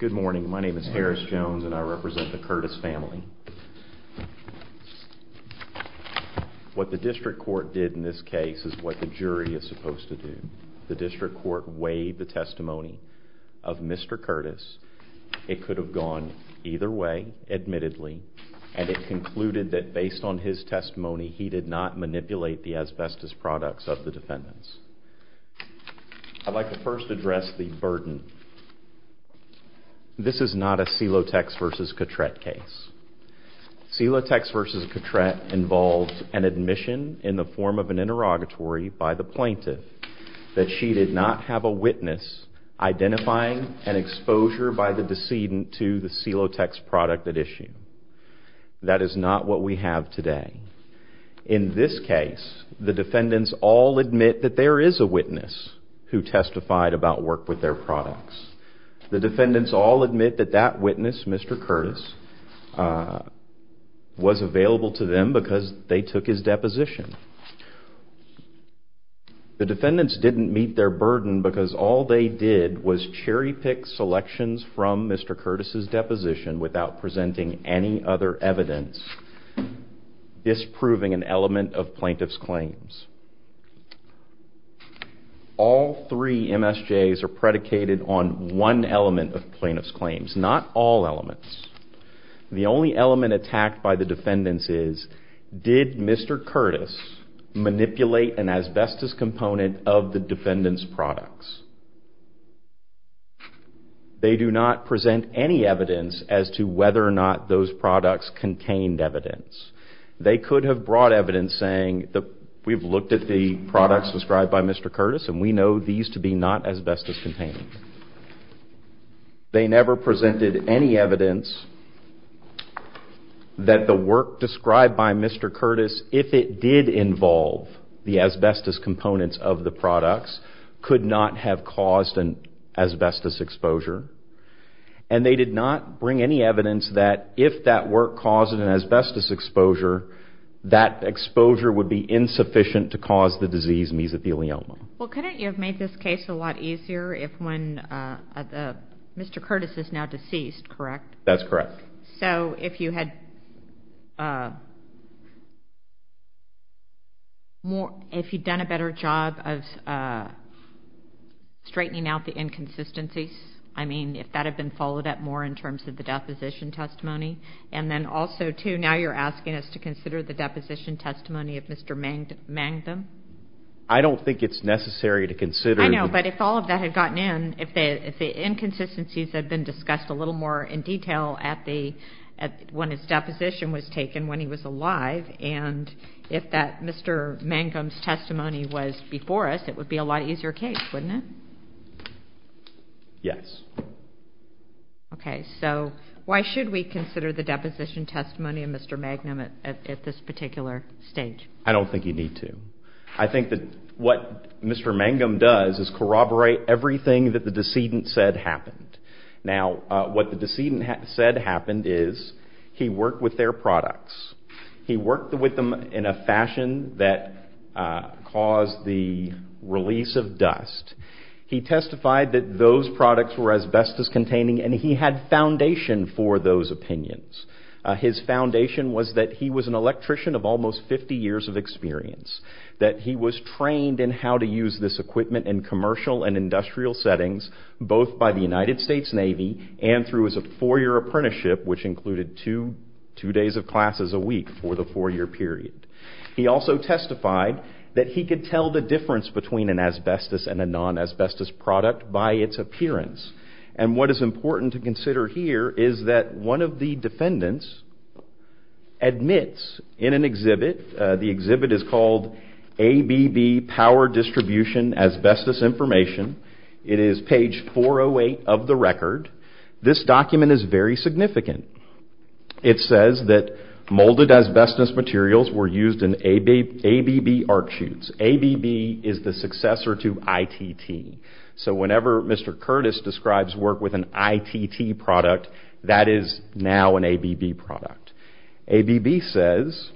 Good morning, my name is Harris Jones and I represent the Curtis family. What the district court did in this case is what the jury is supposed to do. The district court weighed the testimony of Mr. Curtis. It could have gone either way, admittedly, and it concluded that based on his testimony he did not manipulate the asbestos products of the defendants. I'd like to first address the burden. This is not a Celotex v. Cotrette case. Celotex v. Cotrette involved an admission in the form of an interrogatory by the plaintiff that she did not have a witness identifying an exposure by the decedent to the Celotex product at issue. That is not what we have today. In this case, the defendants all admit that there is a witness who testified about work with their products. The defendants all admit that that witness, Mr. Curtis, was available to them because they took his deposition. The defendants didn't meet their burden because all they did was cherry-pick selections from Mr. Curtis' deposition without presenting any other evidence. This is proving an element of plaintiff's claims. All three MSJs are predicated on one element of plaintiff's claims, not all elements. The only element attacked by the defendants is, did Mr. Curtis manipulate an asbestos component of the defendants' products? They do not present any evidence as to whether or not those products contained evidence. They could have brought evidence saying, we've looked at the products described by Mr. Curtis and we know these to be not asbestos contained. They never presented any evidence that the work described by Mr. Curtis, if it did involve the asbestos components of the products, could not have caused an asbestos exposure. And they did not bring any evidence that if that work caused an asbestos exposure, that exposure would be insufficient to cause the disease mesothelioma. Well, couldn't you have made this case a lot easier if when Mr. Curtis is now deceased, correct? That's correct. So if you had done a better job of straightening out the inconsistencies, I mean, if that had been followed up more in terms of the deposition testimony, and then also, too, now you're asking us to consider the deposition testimony of Mr. Mangum? I don't think it's necessary to consider. I know, but if all of that had gotten in, if the inconsistencies had been discussed a little more in detail when his deposition was taken, when he was alive, and if that Mr. Mangum's testimony was before us, it would be a lot easier case, wouldn't it? Yes. Okay. So why should we consider the deposition testimony of Mr. Mangum at this particular stage? I don't think you need to. I think that what Mr. Mangum does is corroborate everything that the decedent said happened. Now, what the decedent said happened is he worked with their products. He worked with them in a fashion that caused the release of dust. He testified that those products were asbestos-containing, and he had foundation for those opinions. His foundation was that he was an electrician of almost 50 years of experience, that he was trained in how to use this equipment in commercial and industrial settings, both by the United States Navy and through his four-year apprenticeship, which included two days of classes a week for the four-year period. He also testified that he could tell the difference between an asbestos and a non-asbestos product by its appearance. And what is important to consider here is that one of the defendants admits in an exhibit, the exhibit is called ABB Power Distribution Asbestos Information. It is page 408 of the record. This document is very significant. It says that molded asbestos materials were used in ABB arc shoots. ABB is the successor to ITT. So whenever Mr. Curtis describes work with an ITT product, that is now an ABB product. ABB says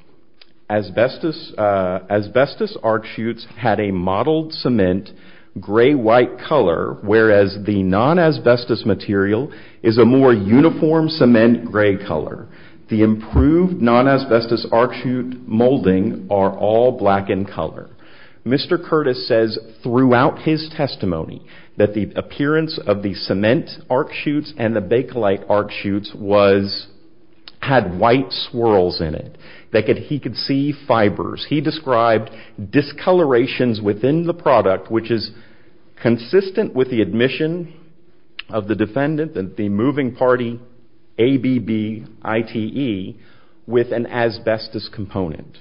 asbestos arc shoots had a modeled cement gray-white color, whereas the non-asbestos material is a more uniform cement gray color. The improved non-asbestos arc shoot molding are all black in color. Mr. Curtis says throughout his testimony that the appearance of the cement arc shoots and the Bakelite arc shoots had white swirls in it, that he could see fibers. He described discolorations within the product, which is consistent with the admission of the defendant, the moving party ABB ITE, with an asbestos component.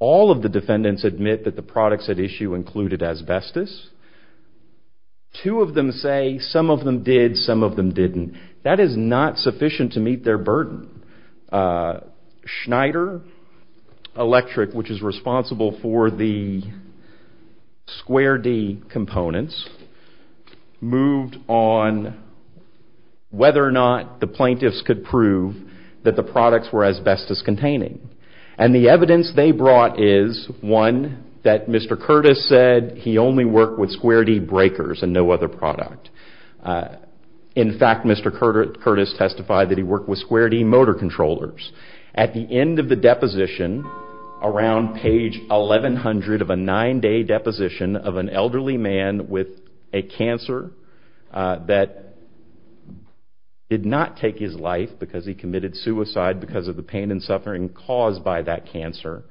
All of the defendants admit that the products at issue included asbestos. Two of them say some of them did, some of them didn't. That is not sufficient to meet their burden. Schneider Electric, which is responsible for the Square D components, moved on whether or not the plaintiffs could prove that the products were asbestos containing. The evidence they brought is, one, that Mr. Curtis said he only worked with Square D breakers and no other product. In fact, Mr. Curtis testified that he worked with Square D motor controllers. At the end of the deposition, around page 1100 of a nine-day deposition of an elderly man with a cancer that did not take his life because he committed suicide because of the pain and suffering caused by that cancer,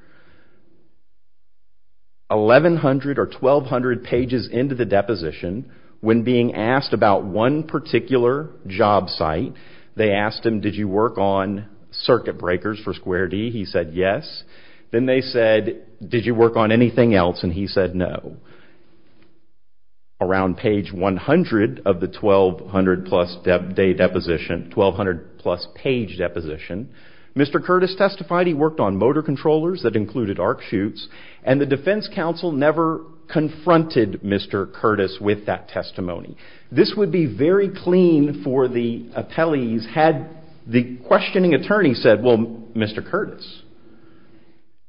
1100 or 1200 pages into the deposition, when being asked about one particular job site, they asked him, did you work on circuit breakers for Square D? He said yes. Then they said, did you work on anything else? And he said no. Around page 100 of the 1200-plus day deposition, 1200-plus page deposition, Mr. Curtis testified he worked on motor controllers that included arc shoots, and the defense counsel never confronted Mr. Curtis with that testimony. This would be very clean for the appellees had the questioning attorney said, well, Mr. Curtis,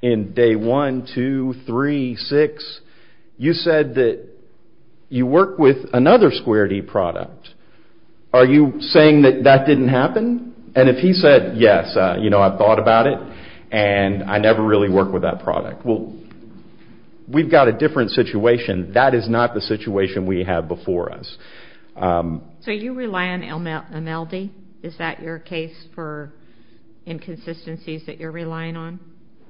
in day one, two, three, six, you said that you worked with another Square D product. Are you saying that that didn't happen? And if he said yes, you know, I've thought about it, and I never really worked with that product. Well, we've got a different situation. That is not the situation we have before us. So you rely on MLD? Is that your case for inconsistencies that you're relying on?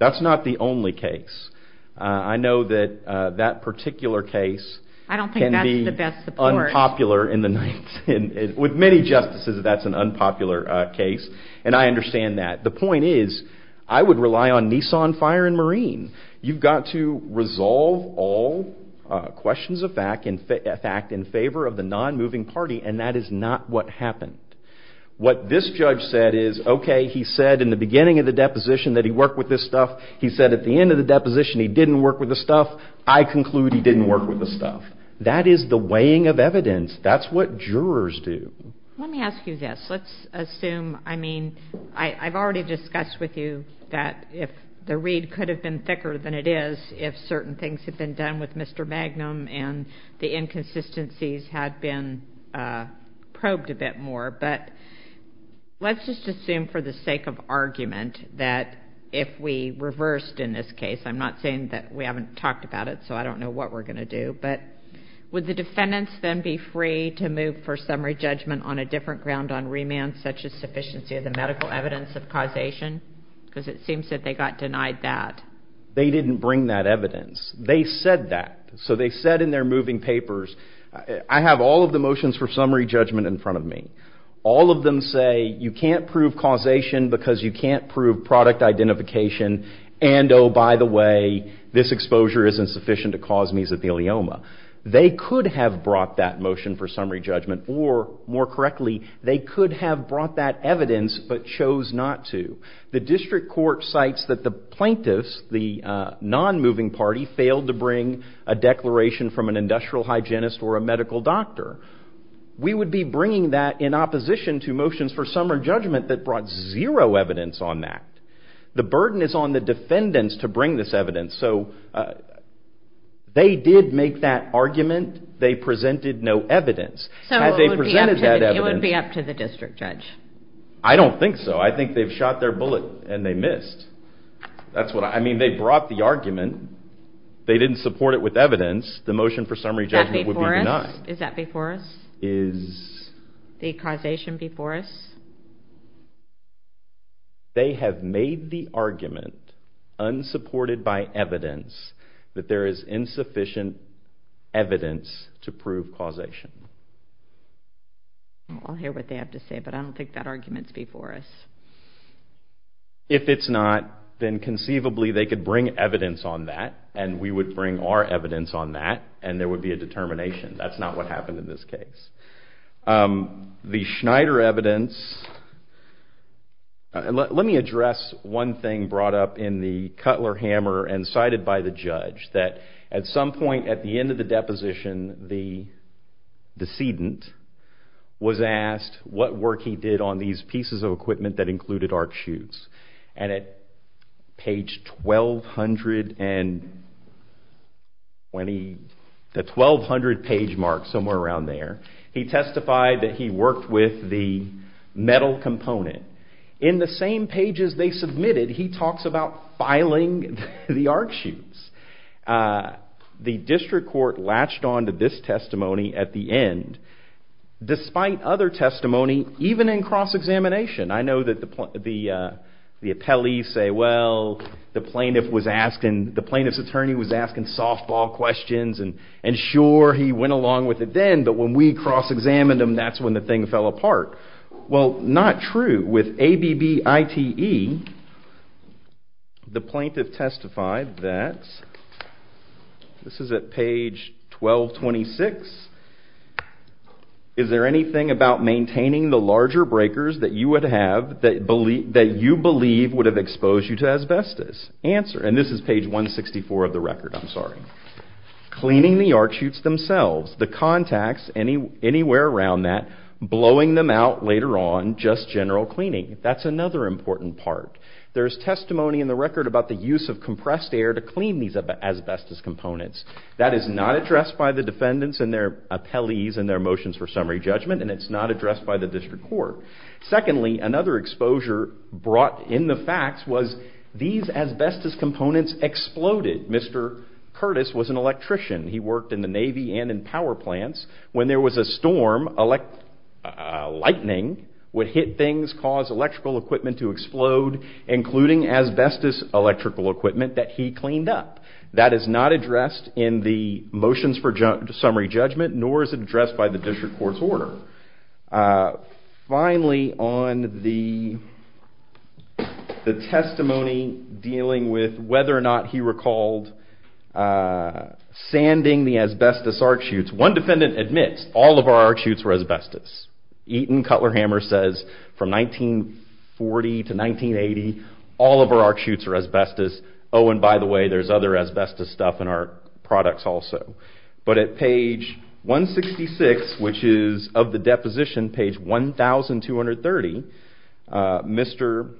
That's not the only case. I know that that particular case can be unpopular. I don't think that's the best support. With many justices, that's an unpopular case, and I understand that. The point is I would rely on Nissan, Fire, and Marine. You've got to resolve all questions of fact in favor of the non-moving party, and that is not what happened. What this judge said is, okay, he said in the beginning of the deposition that he worked with this stuff. He said at the end of the deposition he didn't work with the stuff. I conclude he didn't work with the stuff. That is the weighing of evidence. That's what jurors do. Let me ask you this. Let's assume, I mean, I've already discussed with you that the reed could have been thicker than it is if certain things had been done with Mr. Magnum and the inconsistencies had been probed a bit more. But let's just assume for the sake of argument that if we reversed in this case, I'm not saying that we haven't talked about it, so I don't know what we're going to do, but would the defendants then be free to move for summary judgment on a different ground on remand such as sufficiency of the medical evidence of causation? Because it seems that they got denied that. They didn't bring that evidence. They said that. So they said in their moving papers, I have all of the motions for summary judgment in front of me. All of them say you can't prove causation because you can't prove product identification and, oh, by the way, this exposure isn't sufficient to cause mesothelioma. They could have brought that motion for summary judgment or, more correctly, they could have brought that evidence but chose not to. The district court cites that the plaintiffs, the non-moving party, failed to bring a declaration from an industrial hygienist or a medical doctor. We would be bringing that in opposition to motions for summary judgment that brought zero evidence on that. The burden is on the defendants to bring this evidence. So they did make that argument. They presented no evidence. So it would be up to the district judge. I don't think so. I think they've shot their bullet and they missed. That's what I mean. They brought the argument. They didn't support it with evidence. The motion for summary judgment would be denied. Is that before us? Is the causation before us? They have made the argument, unsupported by evidence, that there is insufficient evidence to prove causation. I'll hear what they have to say, but I don't think that argument is before us. If it's not, then conceivably they could bring evidence on that and we would bring our evidence on that and there would be a determination. That's not what happened in this case. The Schneider evidence, let me address one thing brought up in the Cutler-Hammer and cited by the judge, that at some point at the end of the deposition, the decedent was asked what work he did on these pieces of equipment that included arc shoots. And at page 1,200, the 1,200 page mark, somewhere around there, he testified that he worked with the metal component. In the same pages they submitted, he talks about filing the arc shoots. The district court latched on to this testimony at the end, despite other testimony, even in cross-examination. I know that the appellees say, well, the plaintiff's attorney was asking softball questions and sure, he went along with it then, but when we cross-examined him, that's when the thing fell apart. Well, not true. With ABBITE, the plaintiff testified that, this is at page 1,226, is there anything about maintaining the larger breakers that you would have, that you believe would have exposed you to asbestos? Answer, and this is page 164 of the record, I'm sorry. Cleaning the arc shoots themselves, the contacts, anywhere around that, blowing them out later on, just general cleaning. That's another important part. There's testimony in the record about the use of compressed air to clean these asbestos components. That is not addressed by the defendants and their appellees and their motions for summary judgment, and it's not addressed by the district court. Secondly, another exposure brought in the facts was these asbestos components exploded. Mr. Curtis was an electrician. He worked in the Navy and in power plants. When there was a storm, lightning would hit things, cause electrical equipment to explode, including asbestos electrical equipment that he cleaned up. That is not addressed in the motions for summary judgment, nor is it addressed by the district court's order. Finally, on the testimony dealing with whether or not he recalled sanding the asbestos arc shoots, one defendant admits all of our arc shoots were asbestos. Eaton Cutler-Hammer says from 1940 to 1980, all of our arc shoots were asbestos. Oh, and by the way, there's other asbestos stuff in our products also. But at page 166, which is of the deposition, page 1230, Mr.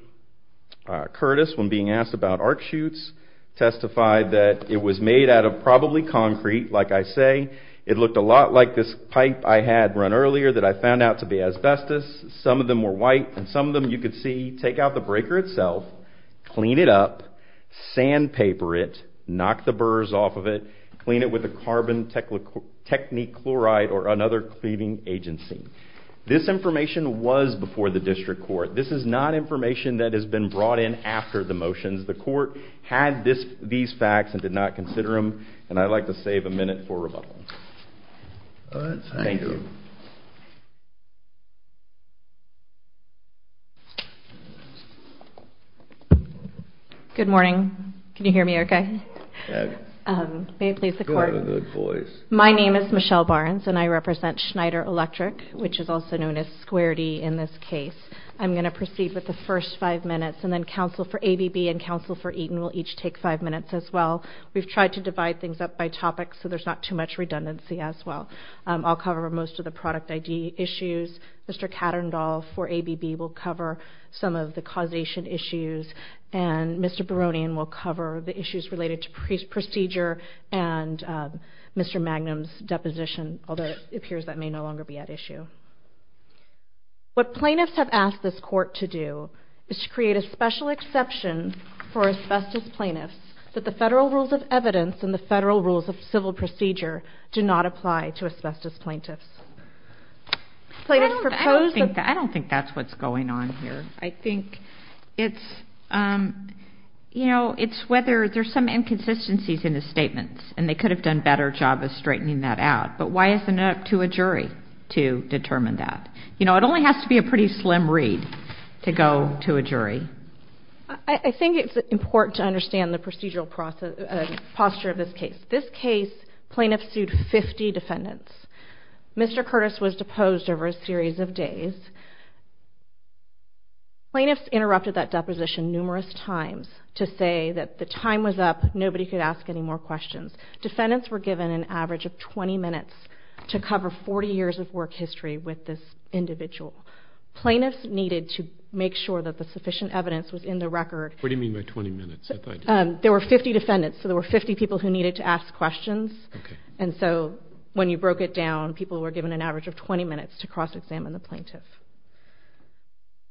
Curtis, when being asked about arc shoots, testified that it was made out of probably concrete, like I say. It looked a lot like this pipe I had run earlier that I found out to be asbestos. Some of them were white, and some of them you could see. Take out the breaker itself, clean it up, sandpaper it, knock the burrs off of it, clean it with a carbon technichloride or another cleaning agency. This information was before the district court. This is not information that has been brought in after the motions. The court had these facts and did not consider them, and I'd like to save a minute for rebuttal. Thank you. Good morning. Can you hear me okay? May it please the court. My name is Michelle Barnes, and I represent Schneider Electric, which is also known as Square D in this case. I'm going to proceed with the first five minutes, and then counsel for ABB and counsel for Eaton will each take five minutes as well. We've tried to divide things up by topic, so there's not too much redundancy as well. I'll cover most of the product ID issues. Mr. Katterndorf for ABB will cover some of the causation issues, and Mr. Baronian will cover the issues related to procedure and Mr. Magnum's deposition, although it appears that may no longer be at issue. What plaintiffs have asked this court to do is to create a special exception for asbestos plaintiffs that the federal rules of evidence and the federal rules of civil procedure do not apply to asbestos plaintiffs. I don't think that's what's going on here. I think it's whether there's some inconsistencies in his statements, and they could have done a better job of straightening that out, but why isn't it up to a jury to determine that? It only has to be a pretty slim read to go to a jury. I think it's important to understand the procedural posture of this case. This case, plaintiffs sued 50 defendants. Mr. Curtis was deposed over a series of days. Plaintiffs interrupted that deposition numerous times to say that the time was up, nobody could ask any more questions. Defendants were given an average of 20 minutes to cover 40 years of work history with this individual. Plaintiffs needed to make sure that the sufficient evidence was in the record. What do you mean by 20 minutes? There were 50 defendants, so there were 50 people who needed to ask questions. And so when you broke it down, people were given an average of 20 minutes to cross-examine the plaintiff.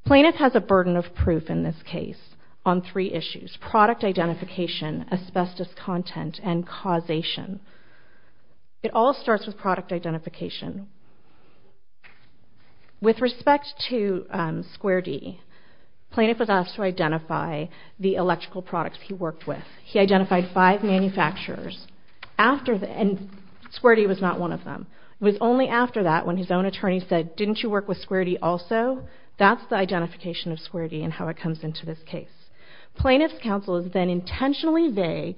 Plaintiff has a burden of proof in this case on three issues, product identification, asbestos content, and causation. It all starts with product identification. With respect to Square D, plaintiff was asked to identify the electrical products he worked with. He identified five manufacturers, and Square D was not one of them. It was only after that when his own attorney said, didn't you work with Square D also? That's the identification of Square D and how it comes into this case. Plaintiff's counsel is then intentionally vague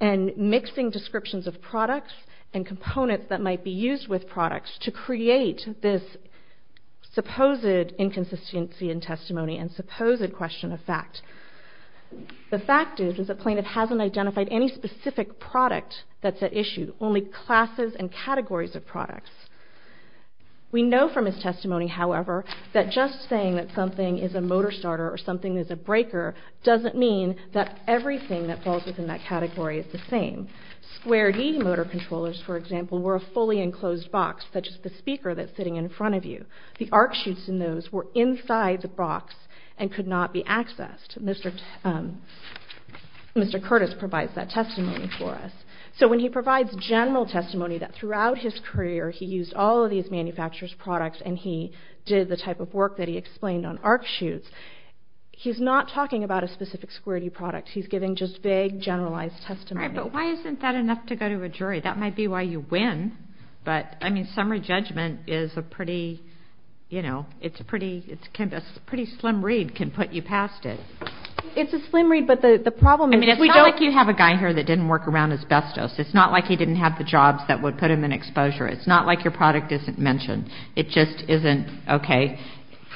and mixing descriptions of products and components that might be used with products to create this supposed inconsistency in testimony and supposed question of fact. The fact is that plaintiff hasn't identified any specific product that's at issue, only classes and categories of products. We know from his testimony, however, that just saying that something is a motor starter or something is a breaker doesn't mean that everything that falls within that category is the same. Square D motor controllers, for example, were a fully enclosed box, such as the speaker that's sitting in front of you. The arc shoots in those were inside the box and could not be accessed. Mr. Curtis provides that testimony for us. So when he provides general testimony that throughout his career he used all of these manufacturers' products and he did the type of work that he explained on arc shoots, he's not talking about a specific Square D product. He's giving just vague, generalized testimony. All right, but why isn't that enough to go to a jury? That might be why you win. But, I mean, summary judgment is a pretty, you know, it's a pretty slim read can put you past it. It's a slim read, but the problem is we don't... I mean, it's not like you have a guy here that didn't work around asbestos. It's not like he didn't have the jobs that would put him in exposure. It's not like your product isn't mentioned. It just isn't okay.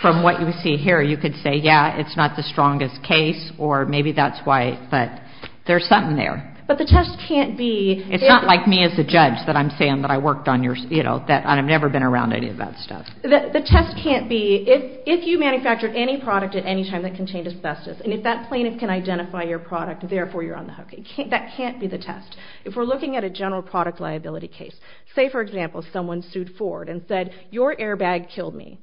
From what you see here, you could say, yeah, it's not the strongest case, or maybe that's why, but there's something there. But the test can't be... It's not like me as a judge that I'm saying that I worked on your, you know, that I've never been around any of that stuff. The test can't be if you manufactured any product at any time that contained asbestos, and if that plaintiff can identify your product, therefore you're on the hook. That can't be the test. If we're looking at a general product liability case, say, for example, someone sued Ford and said, your airbag killed me,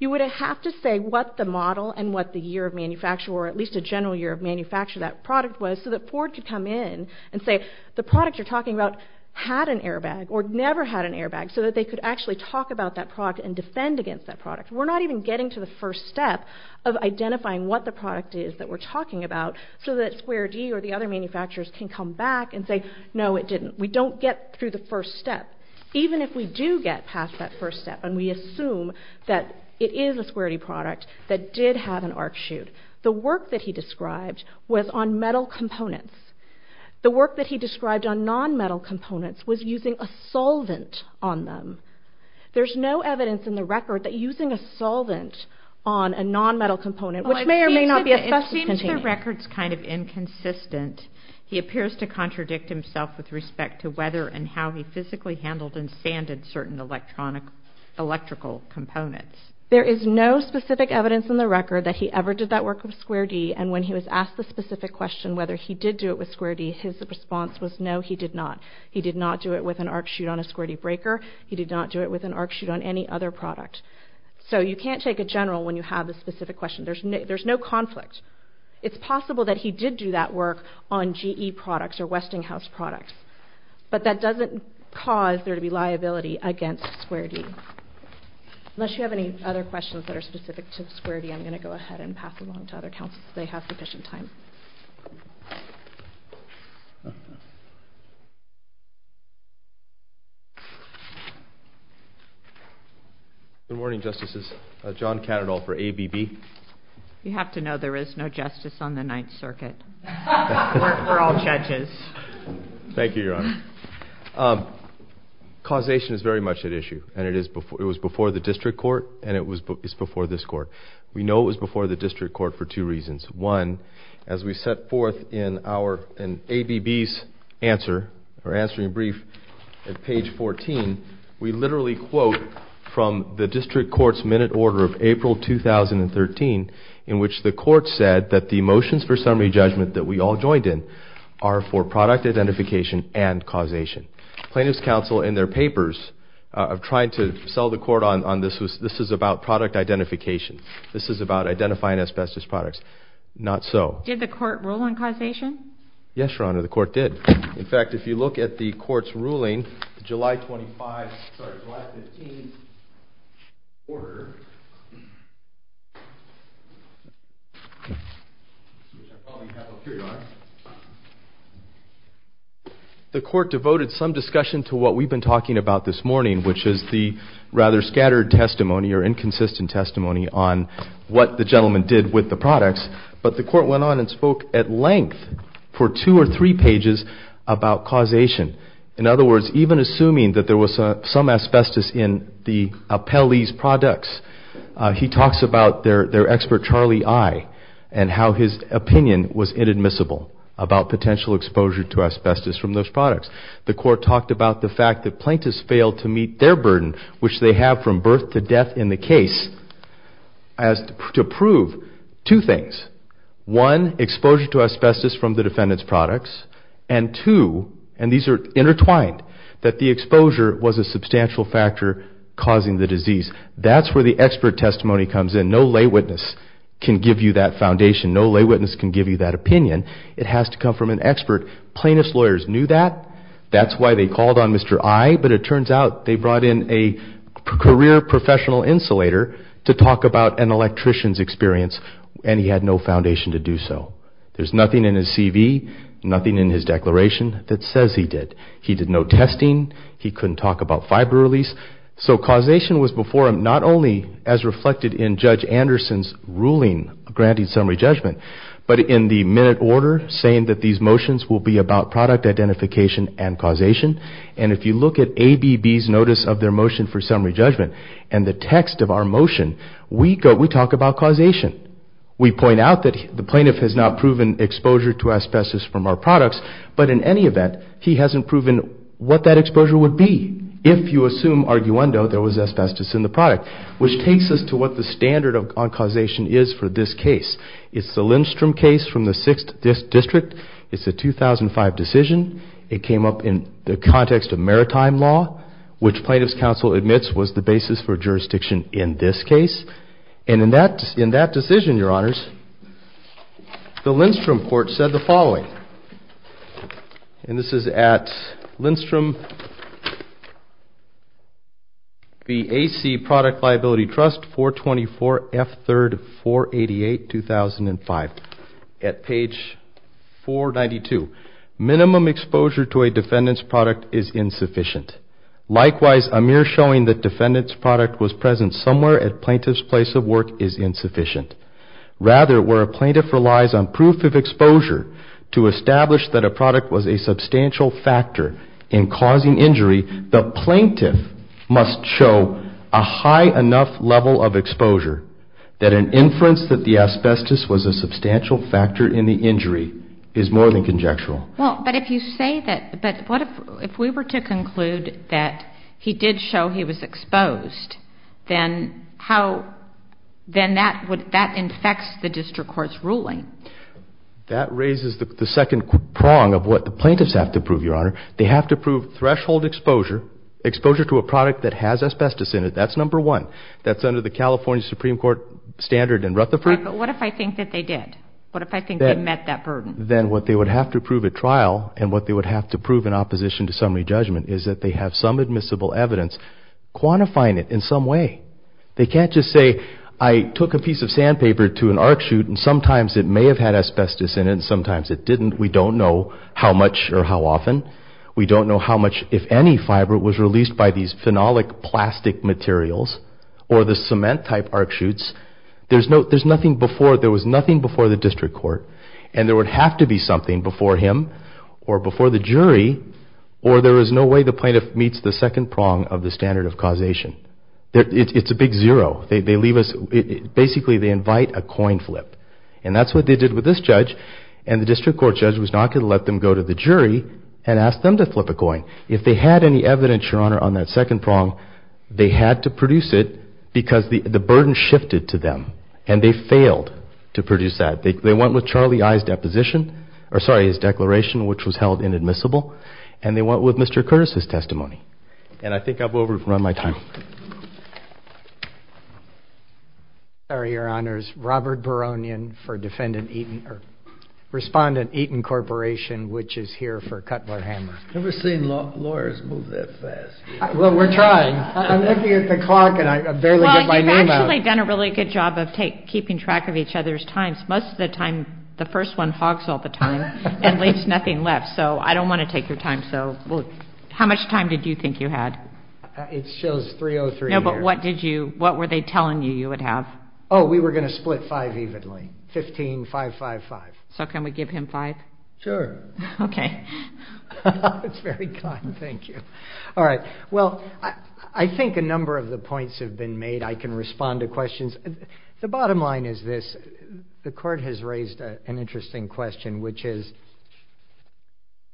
you would have to say what the model and what the year of manufacture, or at least a general year of manufacture, that product was so that Ford could come in and say, the product you're talking about had an airbag or never had an airbag so that they could actually talk about that product and defend against that product. We're not even getting to the first step of identifying what the product is that we're talking about so that Square D or the other manufacturers can come back and say, no, it didn't. We don't get through the first step. Even if we do get past that first step and we assume that it is a Square D product that did have an arc chute, the work that he described was on metal components. The work that he described on nonmetal components was using a solvent on them. There's no evidence in the record that using a solvent on a nonmetal component, which may or may not be asbestos-containing. It seems the record's kind of inconsistent. He appears to contradict himself with respect to whether and how he physically handled and sanded certain electrical components. There is no specific evidence in the record that he ever did that work with Square D, and when he was asked the specific question whether he did do it with Square D, his response was no, he did not. He did not do it with an arc chute on a Square D breaker. He did not do it with an arc chute on any other product. So you can't take a general when you have a specific question. There's no conflict. It's possible that he did do that work on GE products or Westinghouse products, but that doesn't cause there to be liability against Square D. Unless you have any other questions that are specific to Square D, I'm going to go ahead and pass along to other counsels, because they have sufficient time. Good morning, Justices. John Cattadall for ABB. You have to know there is no justice on the Ninth Circuit. We're all judges. Thank you, Your Honor. Causation is very much at issue, and it was before the district court, and it was before this court. We know it was before the district court for two reasons. One, as we set forth in ABB's answer or answering brief at page 14, we literally quote from the district court's minute order of April 2013, in which the court said that the motions for summary judgment that we all joined in are for product identification and causation. Plaintiffs' counsel in their papers tried to sell the court on this. This is about product identification. This is about identifying asbestos products. Not so. Did the court rule on causation? Yes, Your Honor, the court did. In fact, if you look at the court's ruling, July 25th, sorry, July 15th order, which I probably have up here, Your Honor, the court devoted some discussion to what we've been talking about this morning, which is the rather scattered testimony or inconsistent testimony on what the gentleman did with the products, but the court went on and spoke at length for two or three pages about causation. In other words, even assuming that there was some asbestos in the Appellee's products, he talks about their expert, Charlie I, and how his opinion was inadmissible about potential exposure to asbestos from those products. The court talked about the fact that plaintiffs failed to meet their burden, which they have from birth to death in the case, to prove two things. One, exposure to asbestos from the defendant's products, and two, and these are intertwined, that the exposure was a substantial factor causing the disease. That's where the expert testimony comes in. No lay witness can give you that foundation. No lay witness can give you that opinion. It has to come from an expert. Plaintiffs' lawyers knew that. That's why they called on Mr. I, but it turns out they brought in a career professional insulator to talk about an electrician's experience, and he had no foundation to do so. There's nothing in his CV, nothing in his declaration that says he did. He did no testing. He couldn't talk about fiber release. So causation was before him, not only as reflected in Judge Anderson's ruling granting summary judgment, but in the minute order, saying that these motions will be about product identification and causation, and if you look at ABB's notice of their motion for summary judgment and the text of our motion, we talk about causation. We point out that the plaintiff has not proven exposure to asbestos from our products, but in any event, he hasn't proven what that exposure would be if you assume, arguendo, there was asbestos in the product, which takes us to what the standard on causation is for this case. It's the Lindstrom case from the 6th District. It's a 2005 decision. It came up in the context of maritime law, which plaintiff's counsel admits was the basis for jurisdiction in this case, and in that decision, Your Honors, the Lindstrom court said the following, and this is at Lindstrom, the AC Product Liability Trust, 424 F. 3rd, 488, 2005, at page 492, minimum exposure to a defendant's product is insufficient. Likewise, a mere showing that defendant's product was present somewhere at plaintiff's place of work is insufficient. Rather, where a plaintiff relies on proof of exposure to establish that a product was a substantial factor in causing injury, that an inference that the asbestos was a substantial factor in the injury is more than conjectural. Well, but if you say that, but what if we were to conclude that he did show he was exposed, then how, then that would, that infects the district court's ruling. That raises the second prong of what the plaintiffs have to prove, Your Honor. They have to prove threshold exposure, exposure to a product that has asbestos in it. That's number one. That's under the California Supreme Court standard in Rutherford. But what if I think that they did? What if I think they met that burden? Then what they would have to prove at trial and what they would have to prove in opposition to summary judgment is that they have some admissible evidence quantifying it in some way. They can't just say, I took a piece of sandpaper to an arc shoot and sometimes it may have had asbestos in it and sometimes it didn't. We don't know how much or how often. We don't know how much, if any, fiber was released by these phenolic plastic materials or the cement type arc shoots. There's nothing before, there was nothing before the district court and there would have to be something before him or before the jury or there is no way the plaintiff meets the second prong of the standard of causation. It's a big zero. They leave us, basically they invite a coin flip. And that's what they did with this judge and the district court judge was not going to let them go to the jury and ask them to flip a coin. If they had any evidence, Your Honor, on that second prong, they had to produce it because the burden shifted to them and they failed to produce that. They went with Charlie I's deposition, or sorry, his declaration, which was held inadmissible, and they went with Mr. Curtis' testimony. And I think I've overrun my time. Sorry, Your Honors. This is Robert Baronian for Respondent Eaton Corporation, which is here for Cutler-Hammer. I've never seen lawyers move that fast. Well, we're trying. I'm looking at the clock and I barely get my name out. Well, you've actually done a really good job of keeping track of each other's times. Most of the time, the first one hogs all the time and leaves nothing left, so I don't want to take your time. So how much time did you think you had? It shows 303 here. No, but what were they telling you you would have? Oh, we were going to split five evenly, 15, 5, 5, 5. So can we give him five? Sure. Okay. That's very kind. Thank you. All right. Well, I think a number of the points have been made. I can respond to questions. The bottom line is this. The Court has raised an interesting question, which is,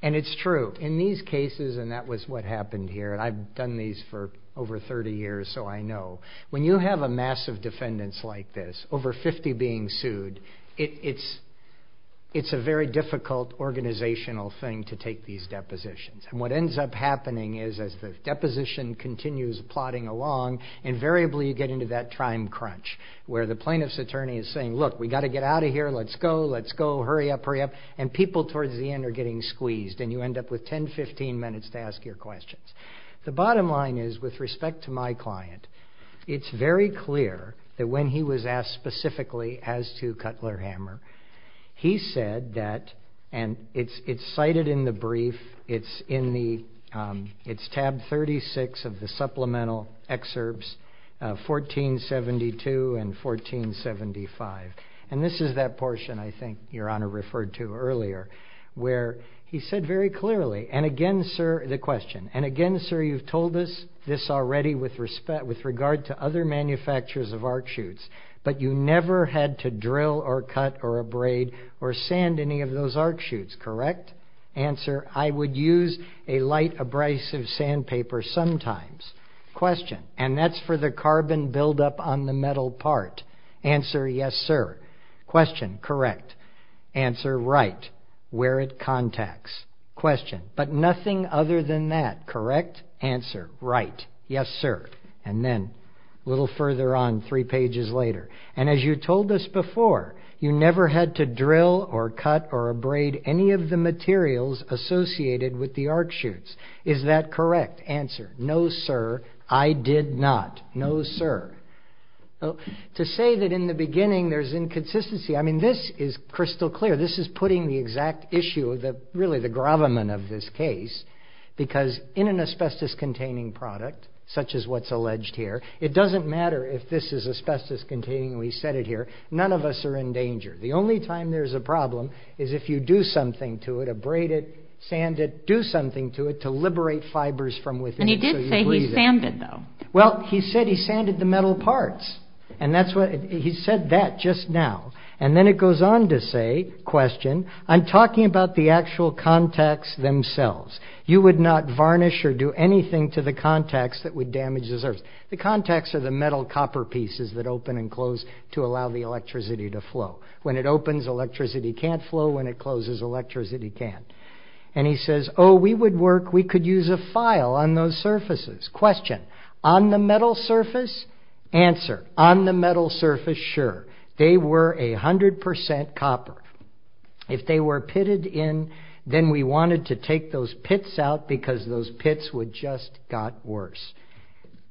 and it's true, in these cases, and that was what happened here, and I've done these for over 30 years so I know, when you have a mass of defendants like this, over 50 being sued, it's a very difficult organizational thing to take these depositions. And what ends up happening is as the deposition continues plodding along, invariably you get into that time crunch where the plaintiff's attorney is saying, look, we've got to get out of here, let's go, let's go, hurry up, hurry up, and people towards the end are getting squeezed, and you end up with 10, 15 minutes to ask your questions. The bottom line is, with respect to my client, it's very clear that when he was asked specifically as to Cutler Hammer, he said that, and it's cited in the brief, it's in tab 36 of the supplemental excerpts, 1472 and 1475, and this is that portion I think Your Honor referred to earlier, where he said very clearly, and again sir, the question, and again sir, you've told us this already with respect, with regard to other manufacturers of arc shoots, but you never had to drill or cut or abrade or sand any of those arc shoots, correct? Answer, I would use a light abrasive sandpaper sometimes. Question, and that's for the carbon buildup on the metal part. Answer, yes sir. Question, correct. Answer, right, where it contacts. Question, but nothing other than that, correct? Answer, right, yes sir. And then, a little further on, three pages later, and as you told us before, you never had to drill or cut or abrade any of the materials associated with the arc shoots. Is that correct? Answer, no sir, I did not, no sir. To say that in the beginning there's inconsistency, I mean this is crystal clear, this is putting the exact issue, really the gravamen of this case, because in an asbestos containing product, such as what's alleged here, it doesn't matter if this is asbestos containing, we said it here, none of us are in danger. The only time there's a problem is if you do something to it, abrade it, sand it, do something to it to liberate fibers from within. And he did say he sanded though. Well, he said he sanded the metal parts, and he said that just now. And then it goes on to say, question, I'm talking about the actual contacts themselves. You would not varnish or do anything to the contacts that would damage the surface. The contacts are the metal copper pieces that open and close to allow the electricity to flow. When it opens, electricity can't flow. When it closes, electricity can't. And he says, oh, we would work, we could use a file on those surfaces. Question, on the metal surface? Answer, on the metal surface, sure. They were 100% copper. If they were pitted in, then we wanted to take those pits out because those pits would just got worse.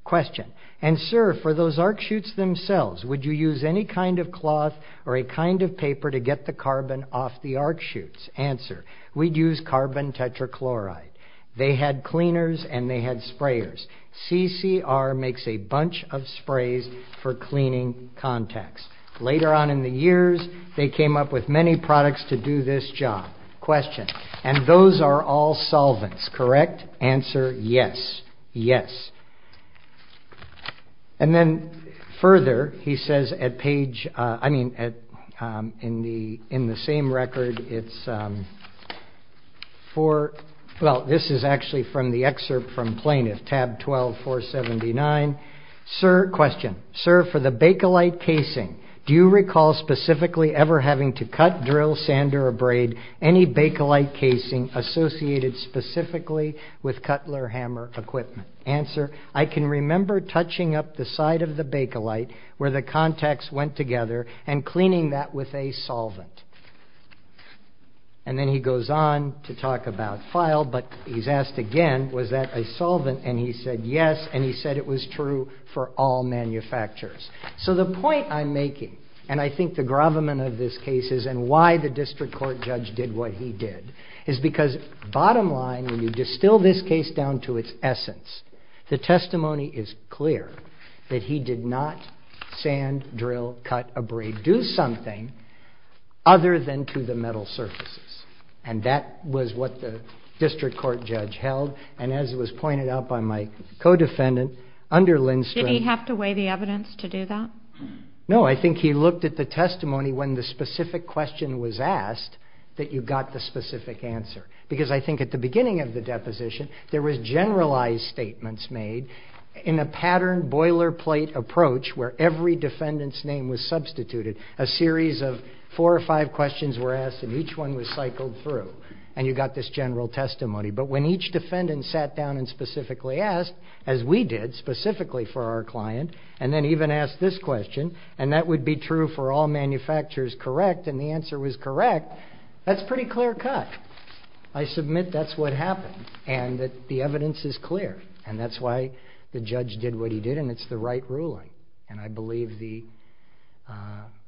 Question, and sir, for those arc chutes themselves, would you use any kind of cloth or a kind of paper to get the carbon off the arc chutes? Answer, we'd use carbon tetrachloride. They had cleaners and they had sprayers. CCR makes a bunch of sprays for cleaning contacts. Later on in the years, they came up with many products to do this job. Question, and those are all solvents, correct? Answer, yes, yes. And then further, he says at page, I mean, in the same record, it's for, well, this is actually from the excerpt from Plaintiff, tab 12479. Sir, question, sir, for the Bakelite casing, do you recall specifically ever having to cut, drill, sand, or abrade any Bakelite casing associated specifically with Cutler Hammer equipment? Answer, I can remember touching up the side of the Bakelite where the contacts went together and cleaning that with a solvent. And then he goes on to talk about file, but he's asked again, was that a solvent? And he said yes, and he said it was true for all manufacturers. So the point I'm making, and I think the gravamen of this case is, and why the district court judge did what he did, is because bottom line, when you distill this case down to its essence, the testimony is clear that he did not sand, drill, cut, abrade, do something other than to the metal surfaces. And that was what the district court judge held, and as was pointed out by my co-defendant, under Lindstrom. Did he have to weigh the evidence to do that? No, I think he looked at the testimony when the specific question was asked that you got the specific answer. Because I think at the beginning of the deposition, there was generalized statements made in a patterned boilerplate approach where every defendant's name was substituted. A series of four or five questions were asked, and each one was cycled through, and you got this general testimony. But when each defendant sat down and specifically asked, as we did specifically for our client, and then even asked this question, and that would be true for all manufacturers, correct, and the answer was correct, that's pretty clear cut. I submit that's what happened, and that the evidence is clear, and that's why the judge did what he did, and it's the right ruling. And I believe the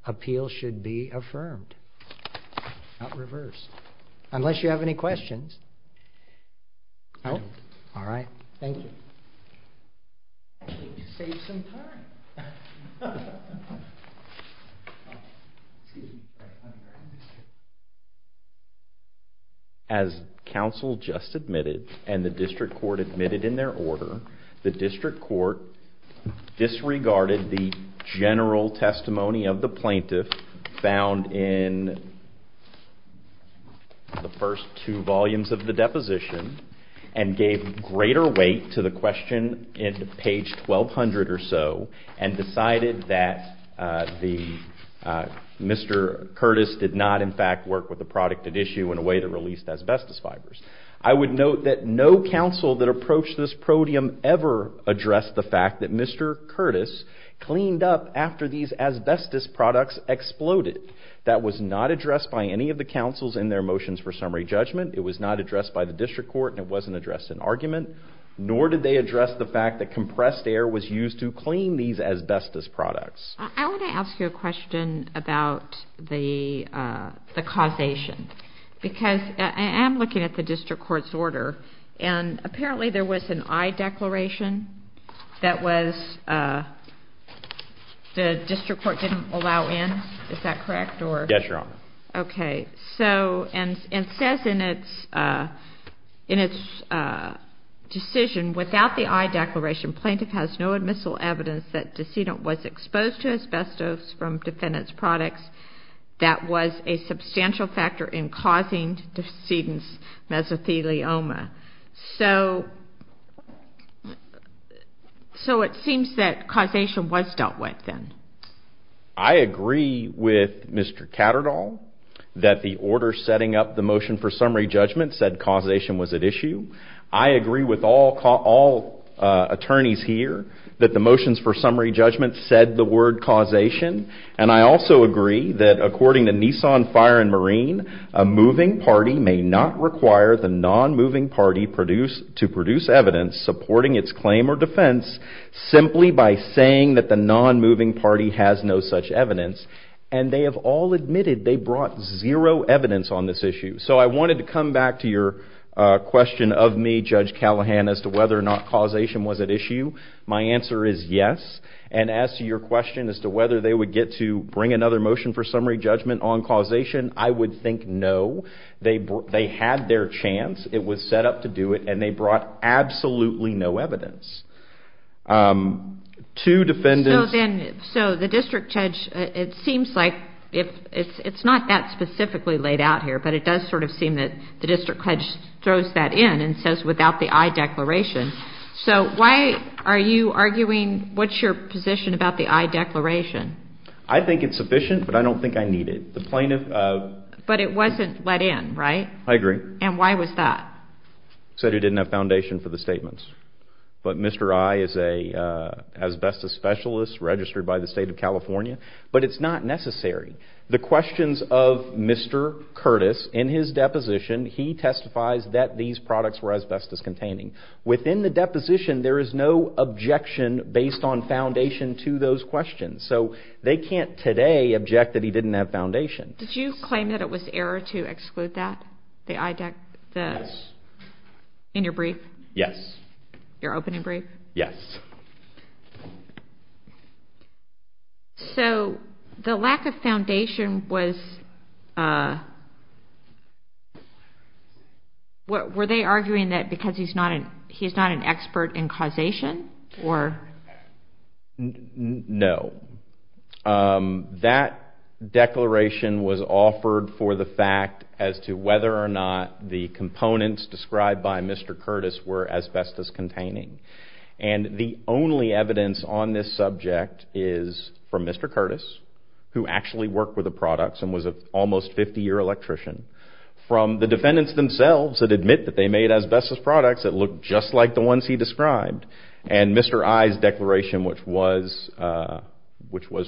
appeal should be affirmed, not reversed. Unless you have any questions. All right. Thank you. As counsel just admitted, and the district court admitted in their order, the district court disregarded the general testimony of the plaintiff found in the first two volumes of the deposition, and gave greater weight to the question in page 1,200 or so, in a way to release asbestos fibers. I would note that no counsel that approached this podium ever addressed the fact that Mr. Curtis cleaned up after these asbestos products exploded. That was not addressed by any of the counsels in their motions for summary judgment. It was not addressed by the district court, and it wasn't addressed in argument. Nor did they address the fact that compressed air was used to clean these asbestos products. I want to ask you a question about the causation. Because I am looking at the district court's order, and apparently there was an aye declaration that was the district court didn't allow in. Is that correct? Yes, Your Honor. Okay. And it says in its decision, without the aye declaration, plaintiff has no admissible evidence that decedent was exposed to asbestos from defendant's products. That was a substantial factor in causing decedent's mesothelioma. So it seems that causation was dealt with then. I agree with Mr. Catterdall that the order setting up the motion for summary judgment said causation was at issue. I agree with all attorneys here that the motions for summary judgment said the word causation. And I also agree that according to Nissan Fire and Marine, a moving party may not require the non-moving party to produce evidence supporting its claim or defense simply by saying that the non-moving party has no such evidence. And they have all admitted they brought zero evidence on this issue. So I wanted to come back to your question of me, Judge Callahan, as to whether or not causation was at issue. My answer is yes. And as to your question as to whether they would get to bring another motion for summary judgment on causation, I would think no. They had their chance, it was set up to do it, and they brought absolutely no evidence. So the district judge, it seems like it's not that specifically laid out here, but it does sort of seem that the district judge throws that in and says without the aye declaration. So why are you arguing? What's your position about the aye declaration? I think it's sufficient, but I don't think I need it. But it wasn't let in, right? I agree. And why was that? Said it didn't have foundation for the statements. But Mr. Aye is an asbestos specialist registered by the state of California. But it's not necessary. The questions of Mr. Curtis, in his deposition, he testifies that these products were asbestos containing. Within the deposition, there is no objection based on foundation to those questions. So they can't today object that he didn't have foundation. Did you claim that it was error to exclude that, the aye declaration? Yes. In your brief? Yes. Your opening brief? Yes. So the lack of foundation was, were they arguing that because he's not an expert in causation? No. That declaration was offered for the fact as to whether or not the components described by Mr. Curtis were asbestos containing. And the only evidence on this subject is from Mr. Curtis, who actually worked with the products and was an almost 50-year electrician, from the defendants themselves that admit that they made asbestos products that looked just like the ones he described, and Mr. Aye's declaration, which was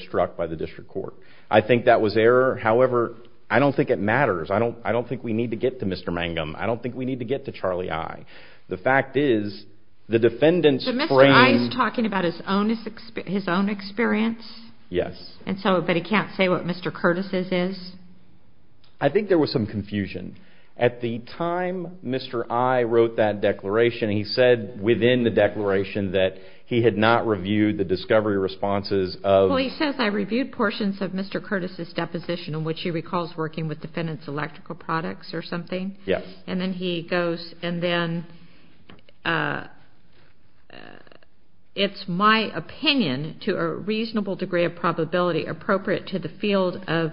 struck by the district court. I think that was error. However, I don't think it matters. I don't think we need to get to Mr. Mangum. I don't think we need to get to Charlie Aye. The fact is the defendants frame. So Mr. Aye is talking about his own experience? Yes. But he can't say what Mr. Curtis' is? I think there was some confusion. At the time Mr. Aye wrote that declaration, he said within the declaration that he had not reviewed the discovery responses of. Well, he says, I reviewed portions of Mr. Curtis' deposition, in which he recalls working with defendants' electrical products or something. Yes. And then he goes, and then, it's my opinion to a reasonable degree of probability appropriate to the field of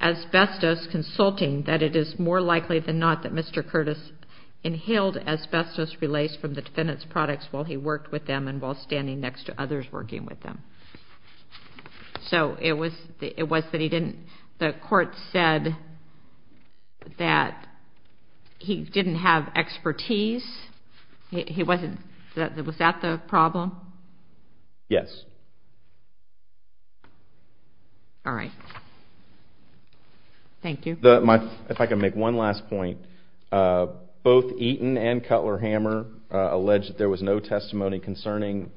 asbestos consulting that it is more likely than not that Mr. Curtis inhaled asbestos relays from the defendants' products while he worked with them and while standing next to others working with them. So it was that he didn't, the court said that he didn't have expertise? He wasn't, was that the problem? Yes. All right. Thank you. If I could make one last point. Both Eaton and Cutler-Hammer allege that there was no testimony concerning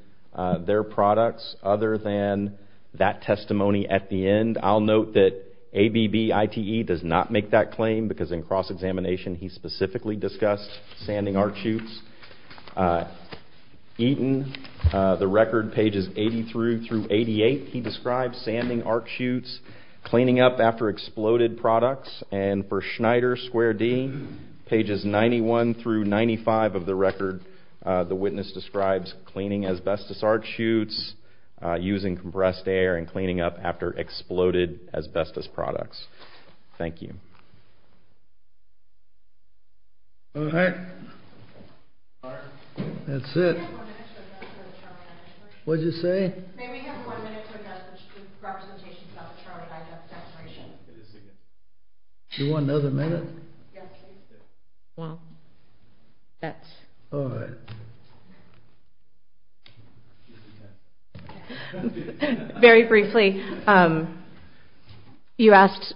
their products other than that testimony at the end. I'll note that ABBITE does not make that claim because in cross-examination he specifically discussed sanding art shoots. Eaton, the record pages 83 through 88, he describes sanding art shoots, cleaning up after exploded products, and for Schneider, square D, pages 91 through 95 of the record, the witness describes cleaning asbestos art shoots, using compressed air, and cleaning up after exploded asbestos products. Thank you. All right. That's it. What did you say? May we have one minute to address the representations about the Charlotte High Depth Declaration? Do you want another minute? Well, that's... All right. Very briefly, you asked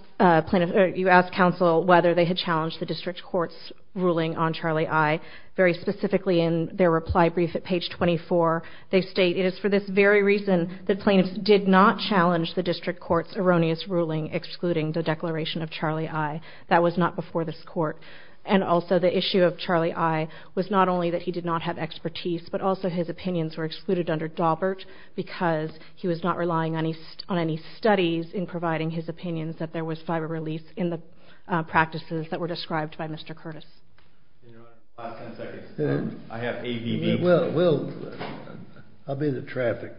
counsel whether they had challenged the district court's ruling on Charlie I. Very specifically in their reply brief at page 24, they state, it is for this very reason that plaintiffs did not challenge the district court's erroneous ruling excluding the declaration of Charlie I. That was not before this court. And also, the issue of Charlie I was not only that he did not have expertise, but also his opinions were excluded under Daubert because he was not relying on any studies in providing his opinions that there was fiber release in the practices that were described by Mr. Curtis. Five, ten seconds. I have A, B, D. Well, I'll be the traffic.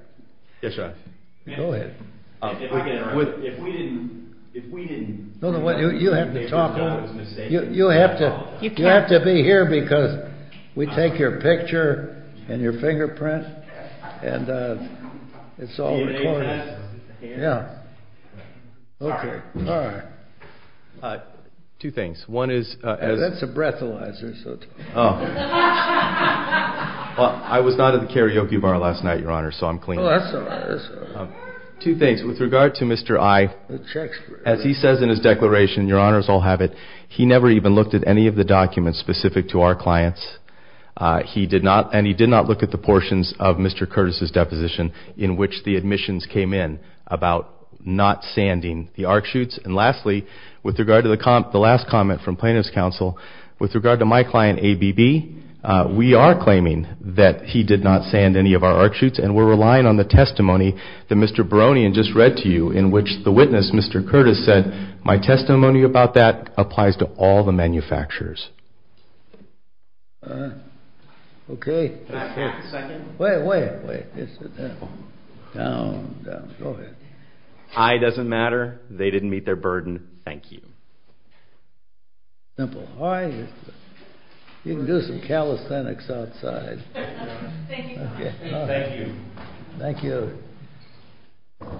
Yes, sir. Go ahead. If we didn't... You have to talk. You have to be here because we take your picture and your fingerprint and it's all recorded. Yeah. Okay. All right. Two things. One is... That's a breathalyzer. I was not at the karaoke bar last night, Your Honor, so I'm clean. Two things. With regard to Mr. I, as he says in his declaration, Your Honor, as I'll have it, he never even looked at any of the documents specific to our clients. He did not, and he did not look at the portions of Mr. Curtis' deposition in which the admissions came in about not sanding the arc shoots. And lastly, with regard to the last comment from Plaintiff's Counsel, with regard to my client, A, B, B, we are claiming that he did not sand any of our arc shoots and we're relying on the testimony that Mr. Baronian just read to you in which the witness, Mr. Curtis, said, my testimony about that applies to all the manufacturers. All right. Okay. Can I have a second? Wait, wait, wait. Sit down. Down, down. Go ahead. I doesn't matter. They didn't meet their burden. Thank you. Simple. All right. You can do some calisthenics outside. Thank you, Your Honor. Thank you. Thank you.